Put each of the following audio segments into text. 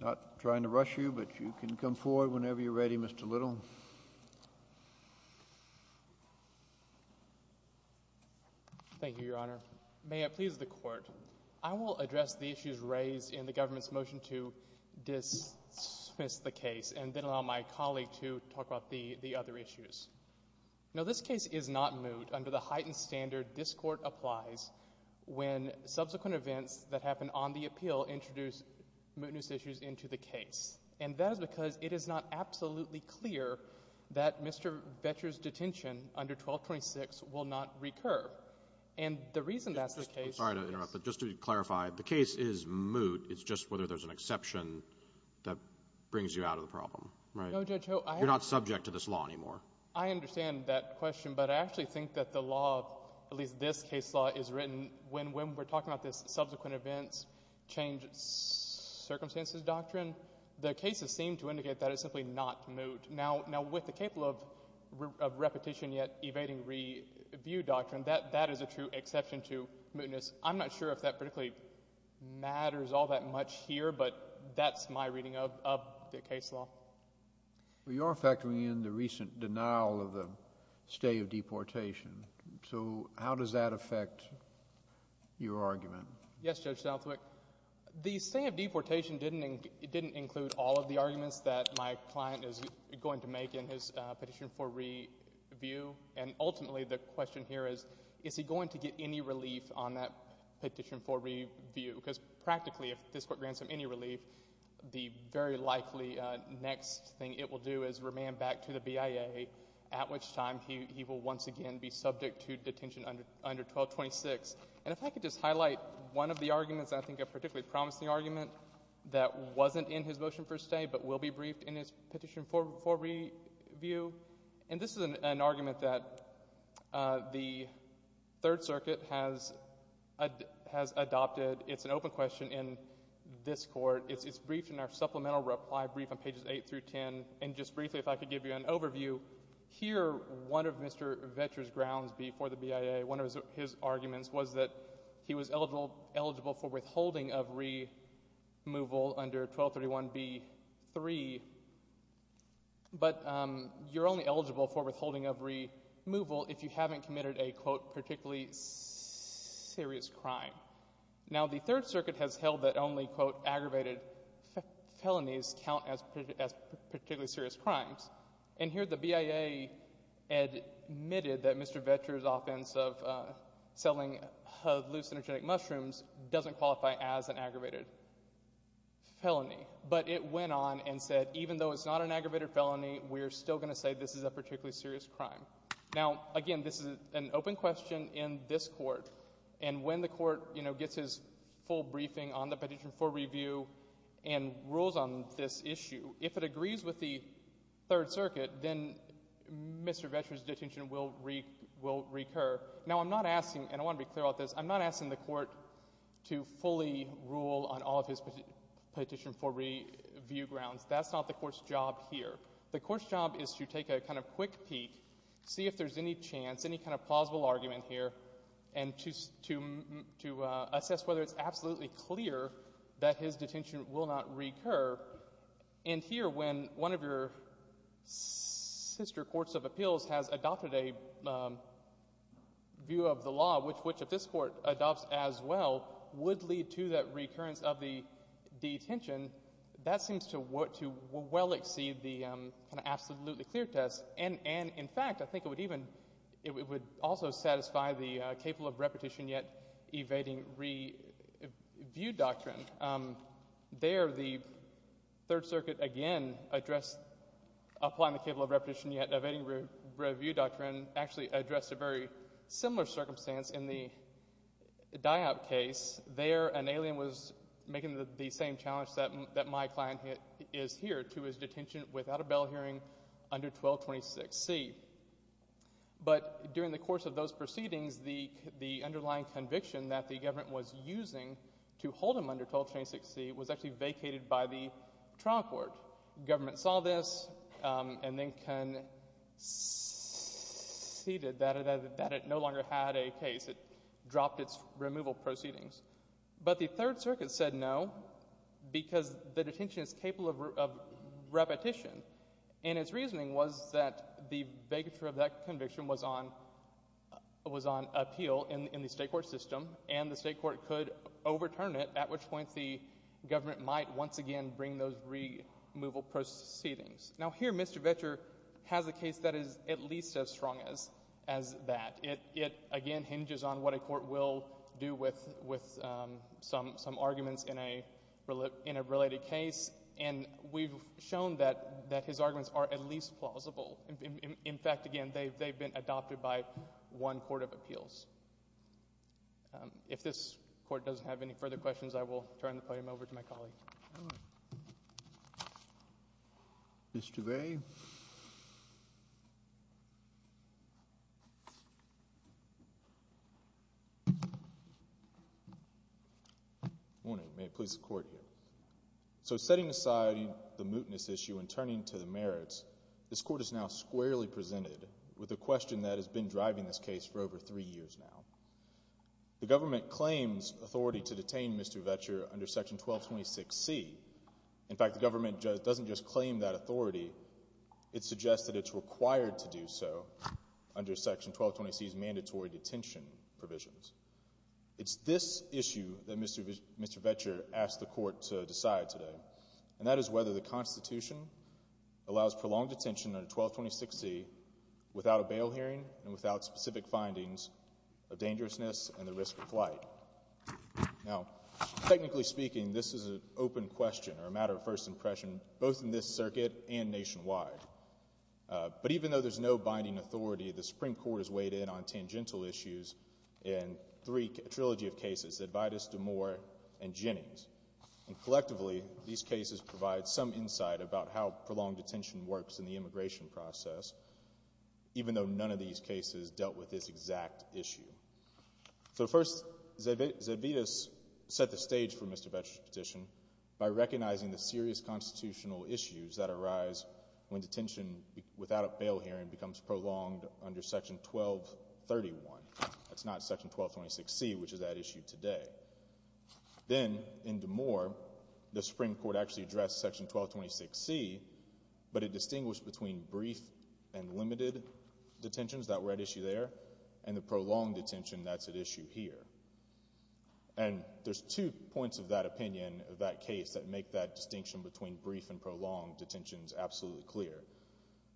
Not trying to rush you, but you can come forward whenever you're ready, Mr. Little. Thank you, Your Honor. May it please the Court, I will address the issues raised in the government's motion to dismiss the case and then allow my colleague to talk about the other issues. Now, this case is not moot under the heightened standard this Court applies when subsequent events that happen on the appeal introduce mootness issues into the case. And that is because it is not absolutely clear that Mr. Vetcher's detention under 1226 will not recur. And the reason that's the case— I'm sorry to interrupt, but just to clarify, the case is moot, it's just whether there's an exception that brings you out of the problem, right? No, Judge Ho— You're not subject to this law anymore. I understand that question, but I actually think that the law, at least this case law, is written when we're talking about this subsequent events change circumstances doctrine, the cases seem to indicate that it's simply not moot. Now, with the capable of repetition yet evading review doctrine, that is a true exception to mootness. I'm not sure if that particularly matters all that much here, but that's my reading of the case law. You're factoring in the recent denial of the stay of deportation, so how does that affect your argument? Yes, Judge Southwick. The stay of deportation didn't include all of the arguments that my client is going to make in his petition for review, and ultimately the question here is, is he going to get any relief on that petition for review? Because practically, if this Court grants him any relief, the very likely next thing it will do is remand back to the BIA, at which time he will once again be subject to detention under 1226. And if I could just highlight one of the arguments, I think a particularly promising argument, that wasn't in his motion for stay but will be briefed in his petition for review, and this is an argument that the Third Circuit has adopted. It's an open question in this Court. It's briefed in our supplemental reply brief on pages 8 through 10, and just briefly, if I could give you an overview, here, one of Mr. Vetcher's grounds before the BIA, one of his arguments was that he was eligible for withholding of removal under 1231b-3, but you're only eligible for withholding of removal if you haven't committed a, quote, particularly serious crime. Now, the Third Circuit has held that only, quote, aggravated felonies count as particularly serious crimes, and here the BIA admitted that Mr. Vetcher's offense of selling hallucinogenic that even though it's not an aggravated felony, we're still going to say this is a particularly serious crime. Now, again, this is an open question in this Court, and when the Court, you know, gets his full briefing on the petition for review and rules on this issue, if it agrees with the Third Circuit, then Mr. Vetcher's detention will recur. Now, I'm not asking, and I want to be clear about this, I'm not asking the Court to fully rule on all of his petition for review grounds. That's not the Court's job here. The Court's job is to take a kind of quick peek, see if there's any chance, any kind of plausible argument here, and to assess whether it's absolutely clear that his detention will not recur, and here, when one of your sister courts of appeals has adopted a view of the law, which this Court adopts as well, would lead to that recurrence of the detention, that seems to well exceed the kind of absolutely clear test, and, in fact, I think it would even, it would also satisfy the capable of repetition yet evading review doctrine. There, the Third Circuit, again, addressed applying the capable of repetition yet evading review doctrine, actually addressed a very similar circumstance in the DIAB case. There, an alien was making the same challenge that my client is here to his detention without a bail hearing under 1226C, but during the course of those proceedings, the underlying conviction that the government was using to hold him under 1226C was actually vacated by the trial court. Government saw this and then conceded that it no longer had a case. It dropped its removal proceedings, but the Third Circuit said no because the detention is capable of repetition, and its reasoning was that the vacature of that conviction was on appeal in the state court system, and the state court could overturn it, at which point the government might once again bring those removal proceedings. Now, here, Mr. Vecher has a case that is at least as strong as that. In fact, it, again, hinges on what a court will do with some arguments in a related case, and we've shown that his arguments are at least plausible. In fact, again, they've been adopted by one court of appeals. If this court doesn't have any further questions, I will turn the podium over to my colleague. Mr. Vey? Good morning. May it please the Court, here. So, setting aside the mootness issue and turning to the merits, this court is now squarely presented with a question that has been driving this case for over three years now. The government claims authority to detain Mr. Vecher under Section 1226C. In fact, the government doesn't just claim that authority, it suggests that it's required to do so under Section 1226C's mandatory detention provisions. It's this issue that Mr. Vecher asked the court to decide today, and that is whether the Constitution allows prolonged detention under 1226C without a bail hearing and without specific findings of dangerousness and the risk of flight. Now, technically speaking, this is an open question or a matter of first impression, both in this circuit and nationwide. But even though there's no binding authority, the Supreme Court has weighed in on tangential issues in a trilogy of cases, Edvaitis, DeMoore, and Jennings. And collectively, these cases provide some insight about how prolonged detention works in the immigration process, even though none of these cases dealt with this exact issue. So first, Edvaitis set the stage for Mr. Vecher's petition by recognizing the serious constitutional issues that arise when detention without a bail hearing becomes prolonged under Section 1231. That's not Section 1226C, which is at issue today. Then, in DeMoore, the Supreme Court actually addressed Section 1226C, but it distinguished between brief and limited detentions that were at issue there and the prolonged detention that's at issue here. And there's two points of that opinion of that case that make that distinction between brief and prolonged detentions absolutely clear.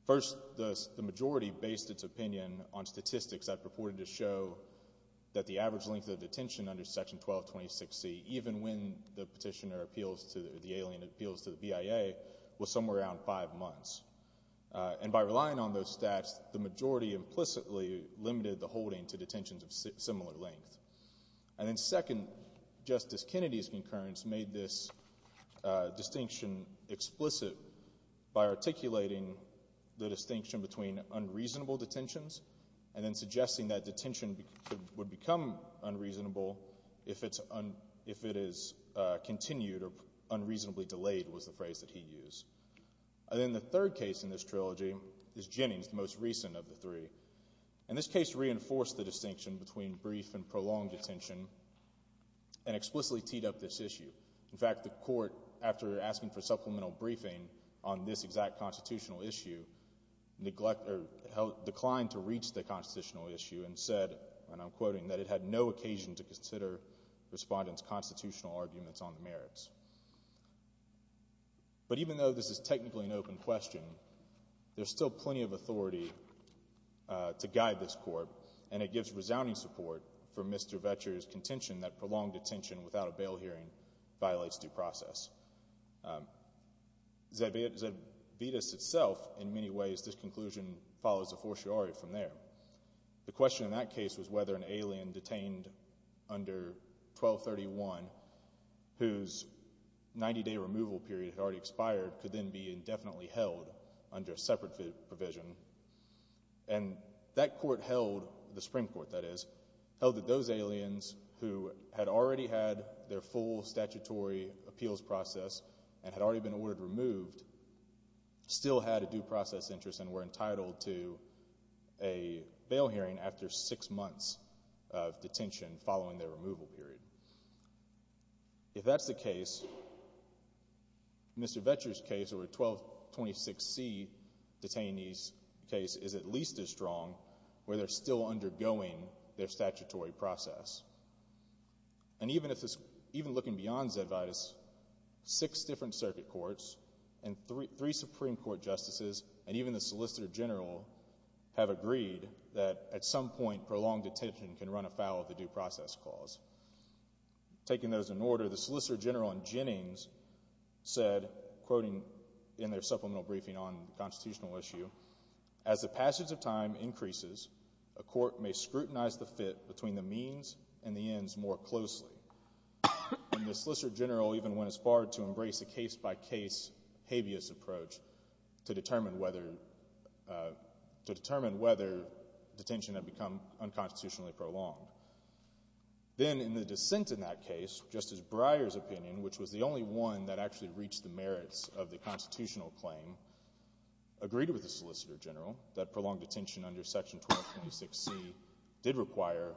First, the majority based its opinion on statistics that purported to show that the average length of detention under Section 1226C, even when the petitioner appeals to the BIA, was somewhere around five months. And by relying on those stats, the majority implicitly limited the holding to detentions of similar length. And then second, Justice Kennedy's concurrence made this distinction explicit by articulating the distinction between unreasonable detentions and then suggesting that detention would become unreasonable if it is continued or unreasonably delayed was the phrase that he used. And then the third case in this trilogy is Jennings, the most recent of the three. And this case reinforced the distinction between brief and prolonged detention and explicitly teed up this issue. In fact, the Court, after asking for supplemental briefing on this exact constitutional issue, declined to reach the constitutional issue and said, and I'm quoting, that it had no occasion to consider respondents' constitutional arguments on the merits. But even though this is technically an open question, there's still plenty of authority to guide this Court, and it gives resounding support for Mr. Vetcher's contention that prolonged detention without a bail hearing violates due process. Zedvitas itself, in many ways, this conclusion follows a fortiori from there. The question in that case was whether an alien detained under 1231, whose 90-day removal period had already expired, could then be indefinitely held under a separate provision. And that Court held, the Supreme Court that is, held that those aliens who had already had their full statutory appeals process and had already been ordered removed still had a due process interest and were entitled to a bail hearing after six months of detention following their removal period. If that's the case, Mr. Vetcher's case or 1226C detainee's case is at least as strong where they're still undergoing their statutory process. And even looking beyond Zedvitas, six different circuit courts and three Supreme Court justices and even the Solicitor General have agreed that at some point, prolonged detention can run afoul of the due process clause. Taking those in order, the Solicitor General in Jennings said, quoting in their supplemental briefing on the constitutional issue, as the passage of time increases, a court may scrutinize the fit between the means and the ends more closely. And the Solicitor General even went as far to embrace a case-by-case habeas approach to determine whether detention had become unconstitutionally prolonged. Then in the dissent in that case, Justice Breyer's opinion, which was the only one that actually reached the merits of the constitutional claim, agreed with the Solicitor General that prolonged detention under Section 1226C did require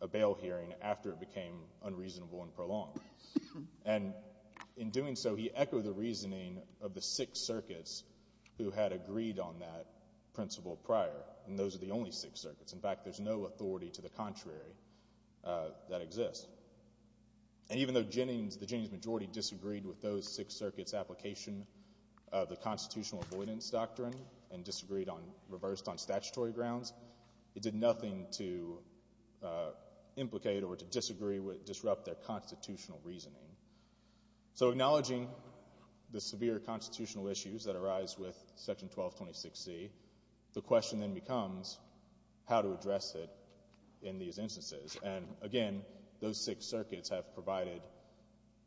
a bail hearing after it became unreasonable and prolonged. And in doing so, he echoed the reasoning of the six circuits who had agreed on that principle prior. And those are the only six circuits. In fact, there's no authority to the contrary that exists. And even though Jennings, the Jennings majority, disagreed with those six circuits' application of the constitutional avoidance doctrine and disagreed on, reversed on statutory grounds, it did nothing to implicate or to disagree with, disrupt their constitutional reasoning. So acknowledging the severe constitutional issues that arise with Section 1226C, the question then becomes how to address it in these instances. And, again, those six circuits have provided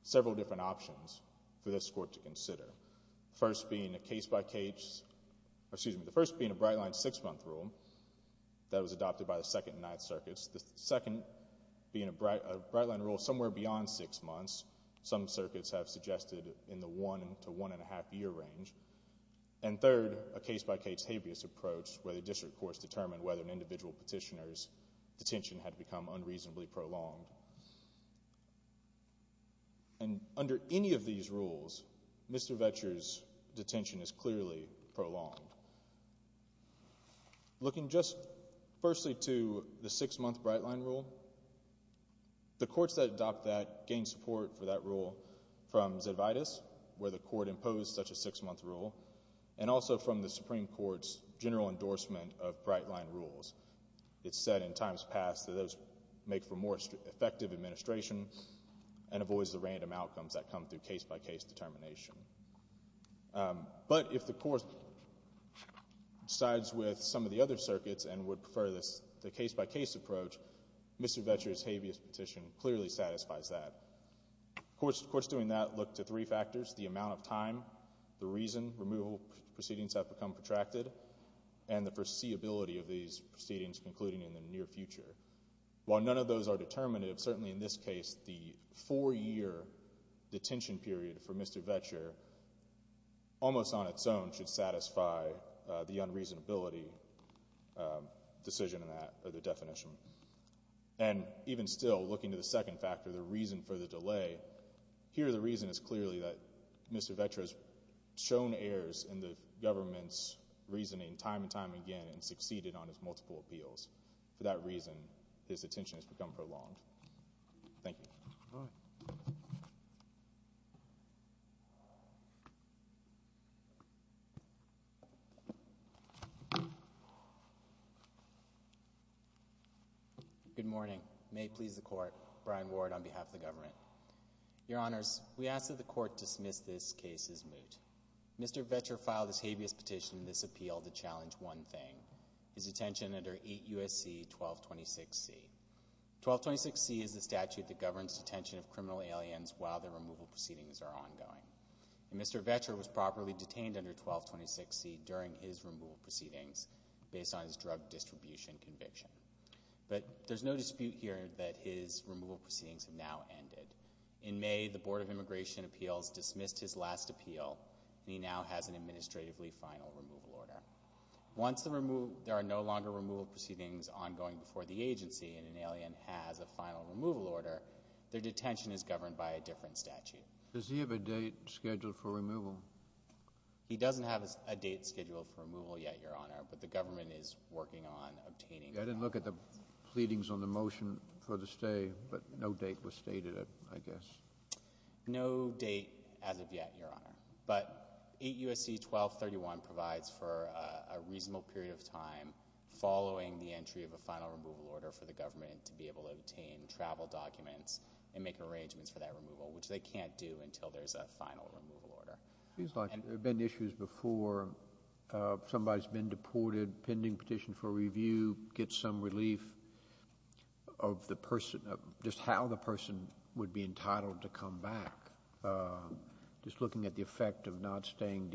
several different options for this Court to consider, the first being a case-by-case or, excuse me, the first being a bright-line six-month rule that was adopted by the Second and Ninth Circuits, the second being a bright-line rule somewhere beyond six months, some circuits have suggested in the one- to one-and-a-half-year range, and third, a case-by-case habeas approach where the district courts determined whether an individual petitioner's detention had become unreasonably prolonged. And under any of these rules, Mr. Vetcher's detention is clearly prolonged. Looking just firstly to the six-month bright-line rule, the courts that adopt that gain support for that rule from Zedvitas, where the Court imposed such a six-month rule, and also from the Supreme Court's general endorsement of bright-line rules. It's said in times past that those make for more effective administration and avoids the random outcomes that come through case-by-case determination. But if the Court sides with some of the other circuits and would prefer the case-by-case approach, Mr. Vetcher's habeas petition clearly satisfies that. Courts doing that look to three factors, the amount of time, the reason removal proceedings have become protracted, and the foreseeability of these proceedings concluding in the near future. While none of those are determinative, certainly in this case, the four-year detention period for Mr. Vetcher, almost on its own, should satisfy the unreasonability decision in that definition. And even still, looking to the second factor, the reason for the delay, here the reason is clearly that Mr. Vetcher has shown errors in the government's reasoning time and time again and succeeded on his multiple appeals. For that reason, his attention has become prolonged. Thank you. Good morning. May it please the Court, Brian Ward on behalf of the government. Your Honors, we ask that the Court dismiss this case as moot. Mr. Vetcher filed his habeas petition in this appeal to challenge one thing, his detention under 8 U.S.C. 1226C. 1226C is the statute that governs detention of criminal aliens while their removal proceedings are ongoing. And Mr. Vetcher was properly detained under 1226C during his removal proceedings based on his drug distribution conviction. But there's no dispute here that his removal proceedings have now ended. In May, the Board of Immigration Appeals dismissed his last appeal, and he now has an administratively final removal order. Once there are no longer removal proceedings ongoing before the agency and an alien has a final removal order, their detention is governed by a different statute. Does he have a date scheduled for removal? He doesn't have a date scheduled for removal yet, Your Honor, but the government is working on obtaining that. I didn't look at the pleadings on the motion for the stay, but no date was stated, I guess. No date as of yet, Your Honor. But 8 U.S.C. 1231 provides for a reasonable period of time following the entry of a final removal order for the government to be able to obtain travel documents and make arrangements for that removal, which they can't do until there's a final removal order. It seems like there have been issues before. Somebody's been deported, pending petition for review, gets some relief of just how the person would be entitled to come back, just looking at the effect of not staying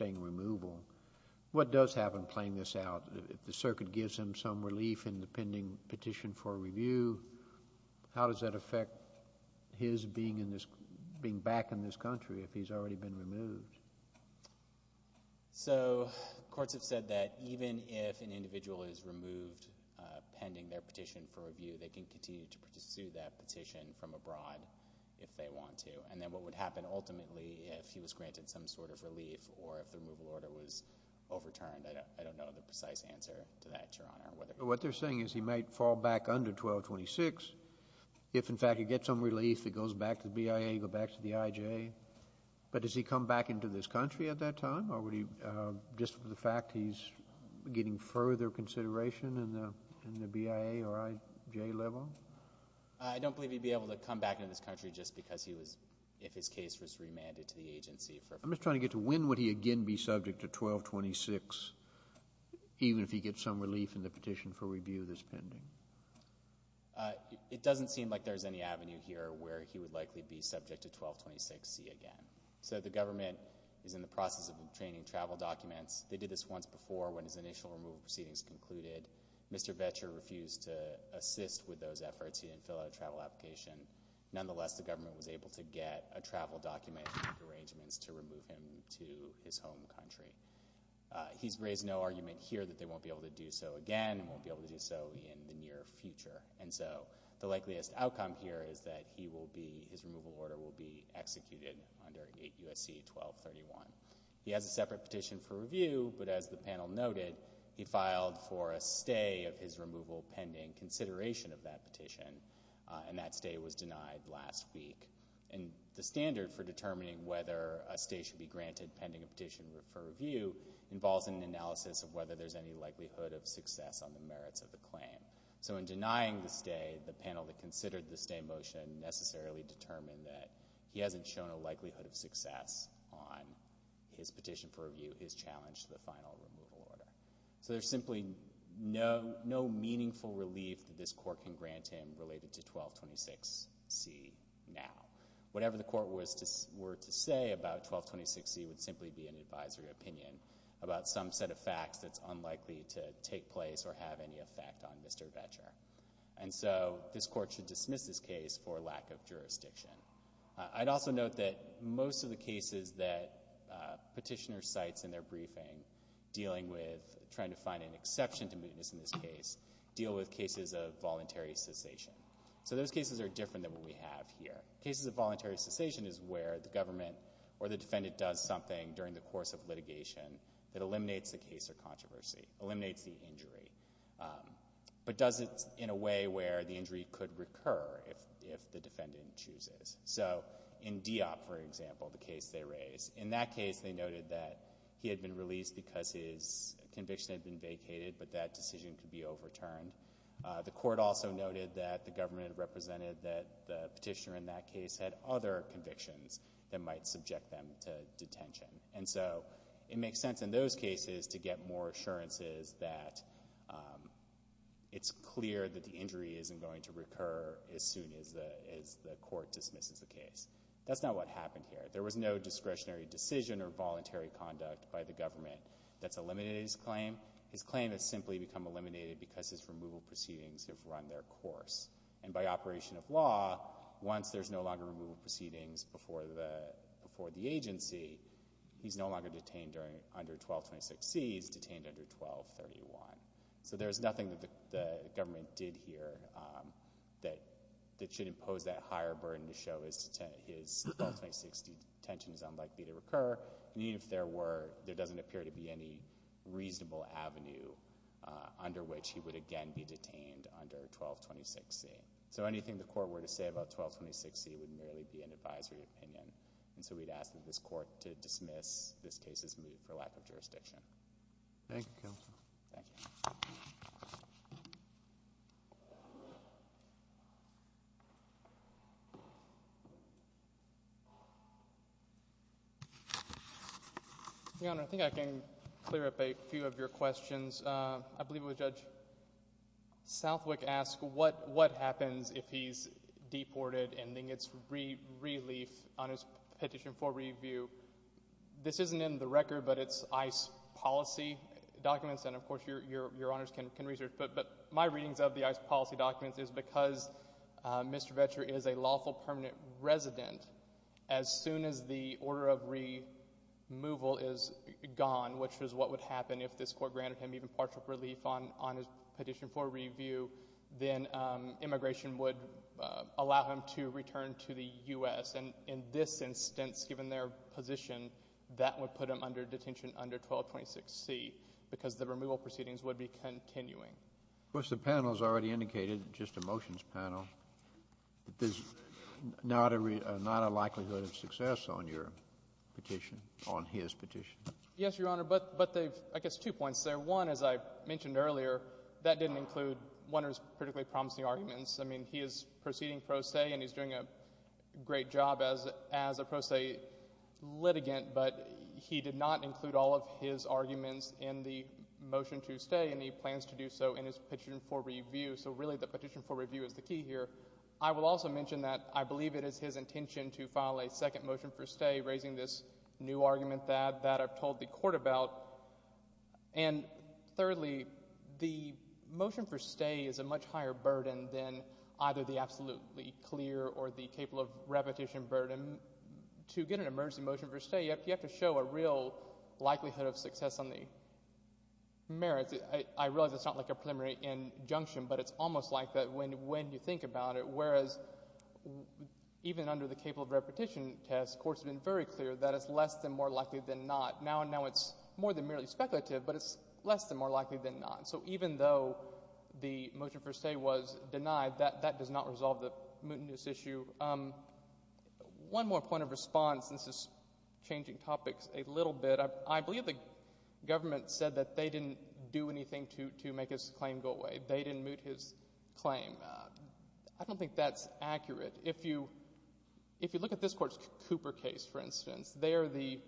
in removal. What does happen playing this out? If the circuit gives him some relief in the pending petition for review, how does that affect his being back in this country if he's already been removed? So courts have said that even if an individual is removed pending their petition for review, they can continue to pursue that petition from abroad if they want to. And then what would happen ultimately if he was granted some sort of relief or if the removal order was overturned, I don't know the precise answer to that, Your Honor. What they're saying is he might fall back under 1226. If, in fact, he gets some relief, he goes back to the BIA, he goes back to the IJ. But does he come back into this country at that time? Or just for the fact he's getting further consideration in the BIA or IJ level? I don't believe he'd be able to come back into this country just because he was, if his case was remanded to the agency. I'm just trying to get to when would he again be subject to 1226, even if he gets some relief in the petition for review that's pending. It doesn't seem like there's any avenue here where he would likely be subject to 1226C again. So the government is in the process of obtaining travel documents. They did this once before when his initial removal proceedings concluded. Mr. Boettcher refused to assist with those efforts. He didn't fill out a travel application. Nonetheless, the government was able to get a travel document to remove him to his home country. He's raised no argument here that they won't be able to do so again and won't be able to do so in the near future. And so the likeliest outcome here is that his removal order will be executed under 8 U.S.C. 1231. He has a separate petition for review, but as the panel noted, he filed for a stay of his removal pending consideration of that petition, and that stay was denied last week. And the standard for determining whether a stay should be granted pending a petition for review involves an analysis of whether there's any likelihood of success on the merits of the claim. So in denying the stay, the panel that considered the stay motion necessarily determined that he hasn't shown a likelihood of success on his petition for review, his challenge to the final removal order. So there's simply no meaningful relief that this court can grant him related to 1226C now. Whatever the court were to say about 1226C would simply be an advisory opinion about some set of facts that's unlikely to take place or have any effect on Mr. Vetcher. And so this court should dismiss this case for lack of jurisdiction. I'd also note that most of the cases that petitioners cite in their briefing dealing with trying to find an exception to mootness in this case deal with cases of voluntary cessation. So those cases are different than what we have here. Cases of voluntary cessation is where the government or the defendant does something during the course of litigation that eliminates the case or controversy, eliminates the injury, but does it in a way where the injury could recur if the defendant chooses. So in Deopp, for example, the case they raised, in that case they noted that he had been released because his conviction had been vacated, but that decision could be overturned. The court also noted that the government represented that the petitioner in that case had other convictions that might subject them to detention. And so it makes sense in those cases to get more assurances that it's clear that the injury isn't going to recur as soon as the court dismisses the case. That's not what happened here. There was no discretionary decision or voluntary conduct by the government that's eliminated his claim. His claim has simply become eliminated because his removal proceedings have run their course. And by operation of law, once there's no longer removal proceedings before the agency, he's no longer detained under 1226C, he's detained under 1231. So there's nothing that the government did here that should impose that higher burden to show that his 1226C detention is unlikely to recur, even if there doesn't appear to be any reasonable avenue under which he would again be detained under 1226C. So anything the court were to say about 1226C would merely be an advisory opinion. And so we'd ask that this court dismiss this case's move for lack of jurisdiction. Thank you, counsel. Thank you. Your Honor, I think I can clear up a few of your questions. I believe it was Judge Southwick asked what happens if he's deported and then gets relief on his petition for review. This isn't in the record, but it's ICE policy documents. And, of course, Your Honors can research. But my readings of the ICE policy documents is because Mr. Vetcher is a lawful permanent resident, as soon as the order of removal is gone, which is what would happen if this court granted him even partial relief on his petition for review, then immigration would allow him to return to the U.S. And in this instance, given their position, that would put him under detention under 1226C because the removal proceedings would be continuing. Of course, the panel has already indicated, just a motions panel, that there's not a likelihood of success on your petition, on his petition. Yes, Your Honor, but they've, I guess, two points there. One, as I mentioned earlier, that didn't include one of his particularly promising arguments. I mean, he is proceeding pro se, and he's doing a great job as a pro se litigant, but he did not include all of his arguments in the motion to stay, and he plans to do so in his petition for review. So, really, the petition for review is the key here. I will also mention that I believe it is his intention to file a second motion for stay, raising this new argument that I've told the court about. And, thirdly, the motion for stay is a much higher burden than either the absolutely clear or the capable of repetition burden. To get an emergency motion for stay, you have to show a real likelihood of success on the merits. I realize it's not like a preliminary injunction, but it's almost like that when you think about it, whereas even under the capable of repetition test, the court has been very clear that it's less than more likely than not. Now it's more than merely speculative, but it's less than more likely than not. So even though the motion for stay was denied, that does not resolve the mootness issue. One more point of response, and this is changing topics a little bit. I believe the government said that they didn't do anything to make his claim go away. They didn't moot his claim. I don't think that's accurate. If you look at this court's Cooper case, for instance, there the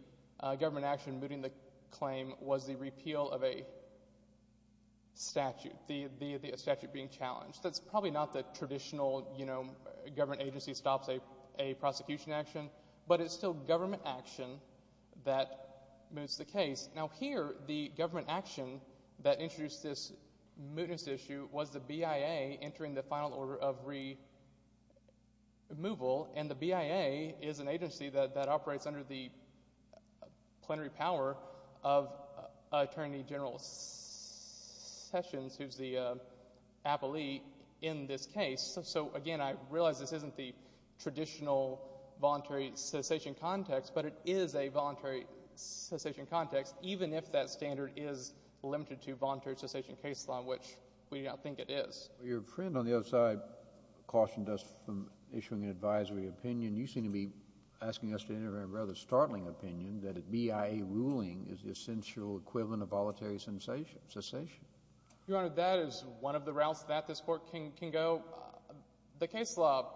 government action mooting the claim was the repeal of a statute, a statute being challenged. That's probably not the traditional government agency stops a prosecution action, but it's still government action that moots the case. Now here the government action that introduced this mootness issue was the BIA entering the final order of removal, and the BIA is an agency that operates under the plenary power of Attorney General Sessions, who's the appellee in this case. So, again, I realize this isn't the traditional voluntary cessation context, but it is a voluntary cessation context even if that standard is limited to voluntary cessation case law, which we now think it is. Well, your friend on the other side cautioned us from issuing an advisory opinion. You seem to be asking us to enter a rather startling opinion that a BIA ruling is the essential equivalent of voluntary cessation. Your Honor, that is one of the routes that this court can go. The case law,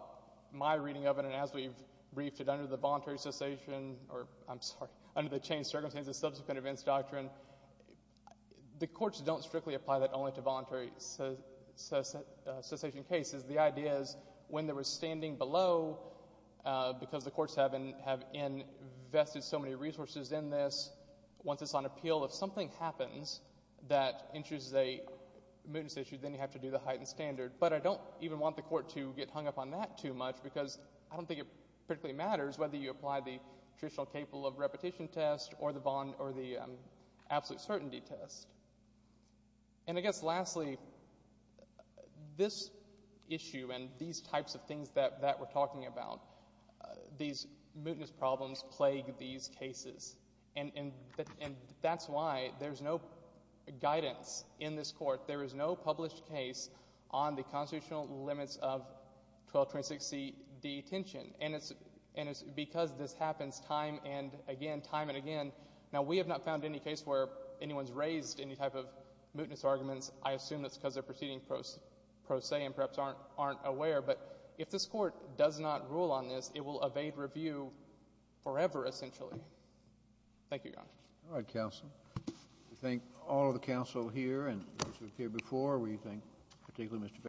my reading of it, and as we've briefed it under the voluntary cessation, or I'm sorry, under the changed circumstances subsequent events doctrine, the courts don't strictly apply that only to voluntary cessation cases. The idea is when there was standing below, because the courts have invested so many resources in this, once it's on appeal, if something happens that introduces a mootness issue, then you have to do the heightened standard. But I don't even want the court to get hung up on that too much because I don't think it particularly matters whether you apply the traditional capable of repetition test or the bond or the absolute certainty test. And I guess lastly, this issue and these types of things that we're talking about, these mootness problems plague these cases. And that's why there's no guidance in this court. There is no published case on the constitutional limits of 1226C detention. And it's because this happens time and again, time and again. Now, we have not found any case where anyone's raised any type of mootness arguments. I assume that's because they're proceeding pro se and perhaps aren't aware. But if this court does not rule on this, it will evade review forever essentially. Thank you, Your Honor. All right, counsel. We thank all of the counsel here and those who appeared before. We thank particularly Mr. Becker.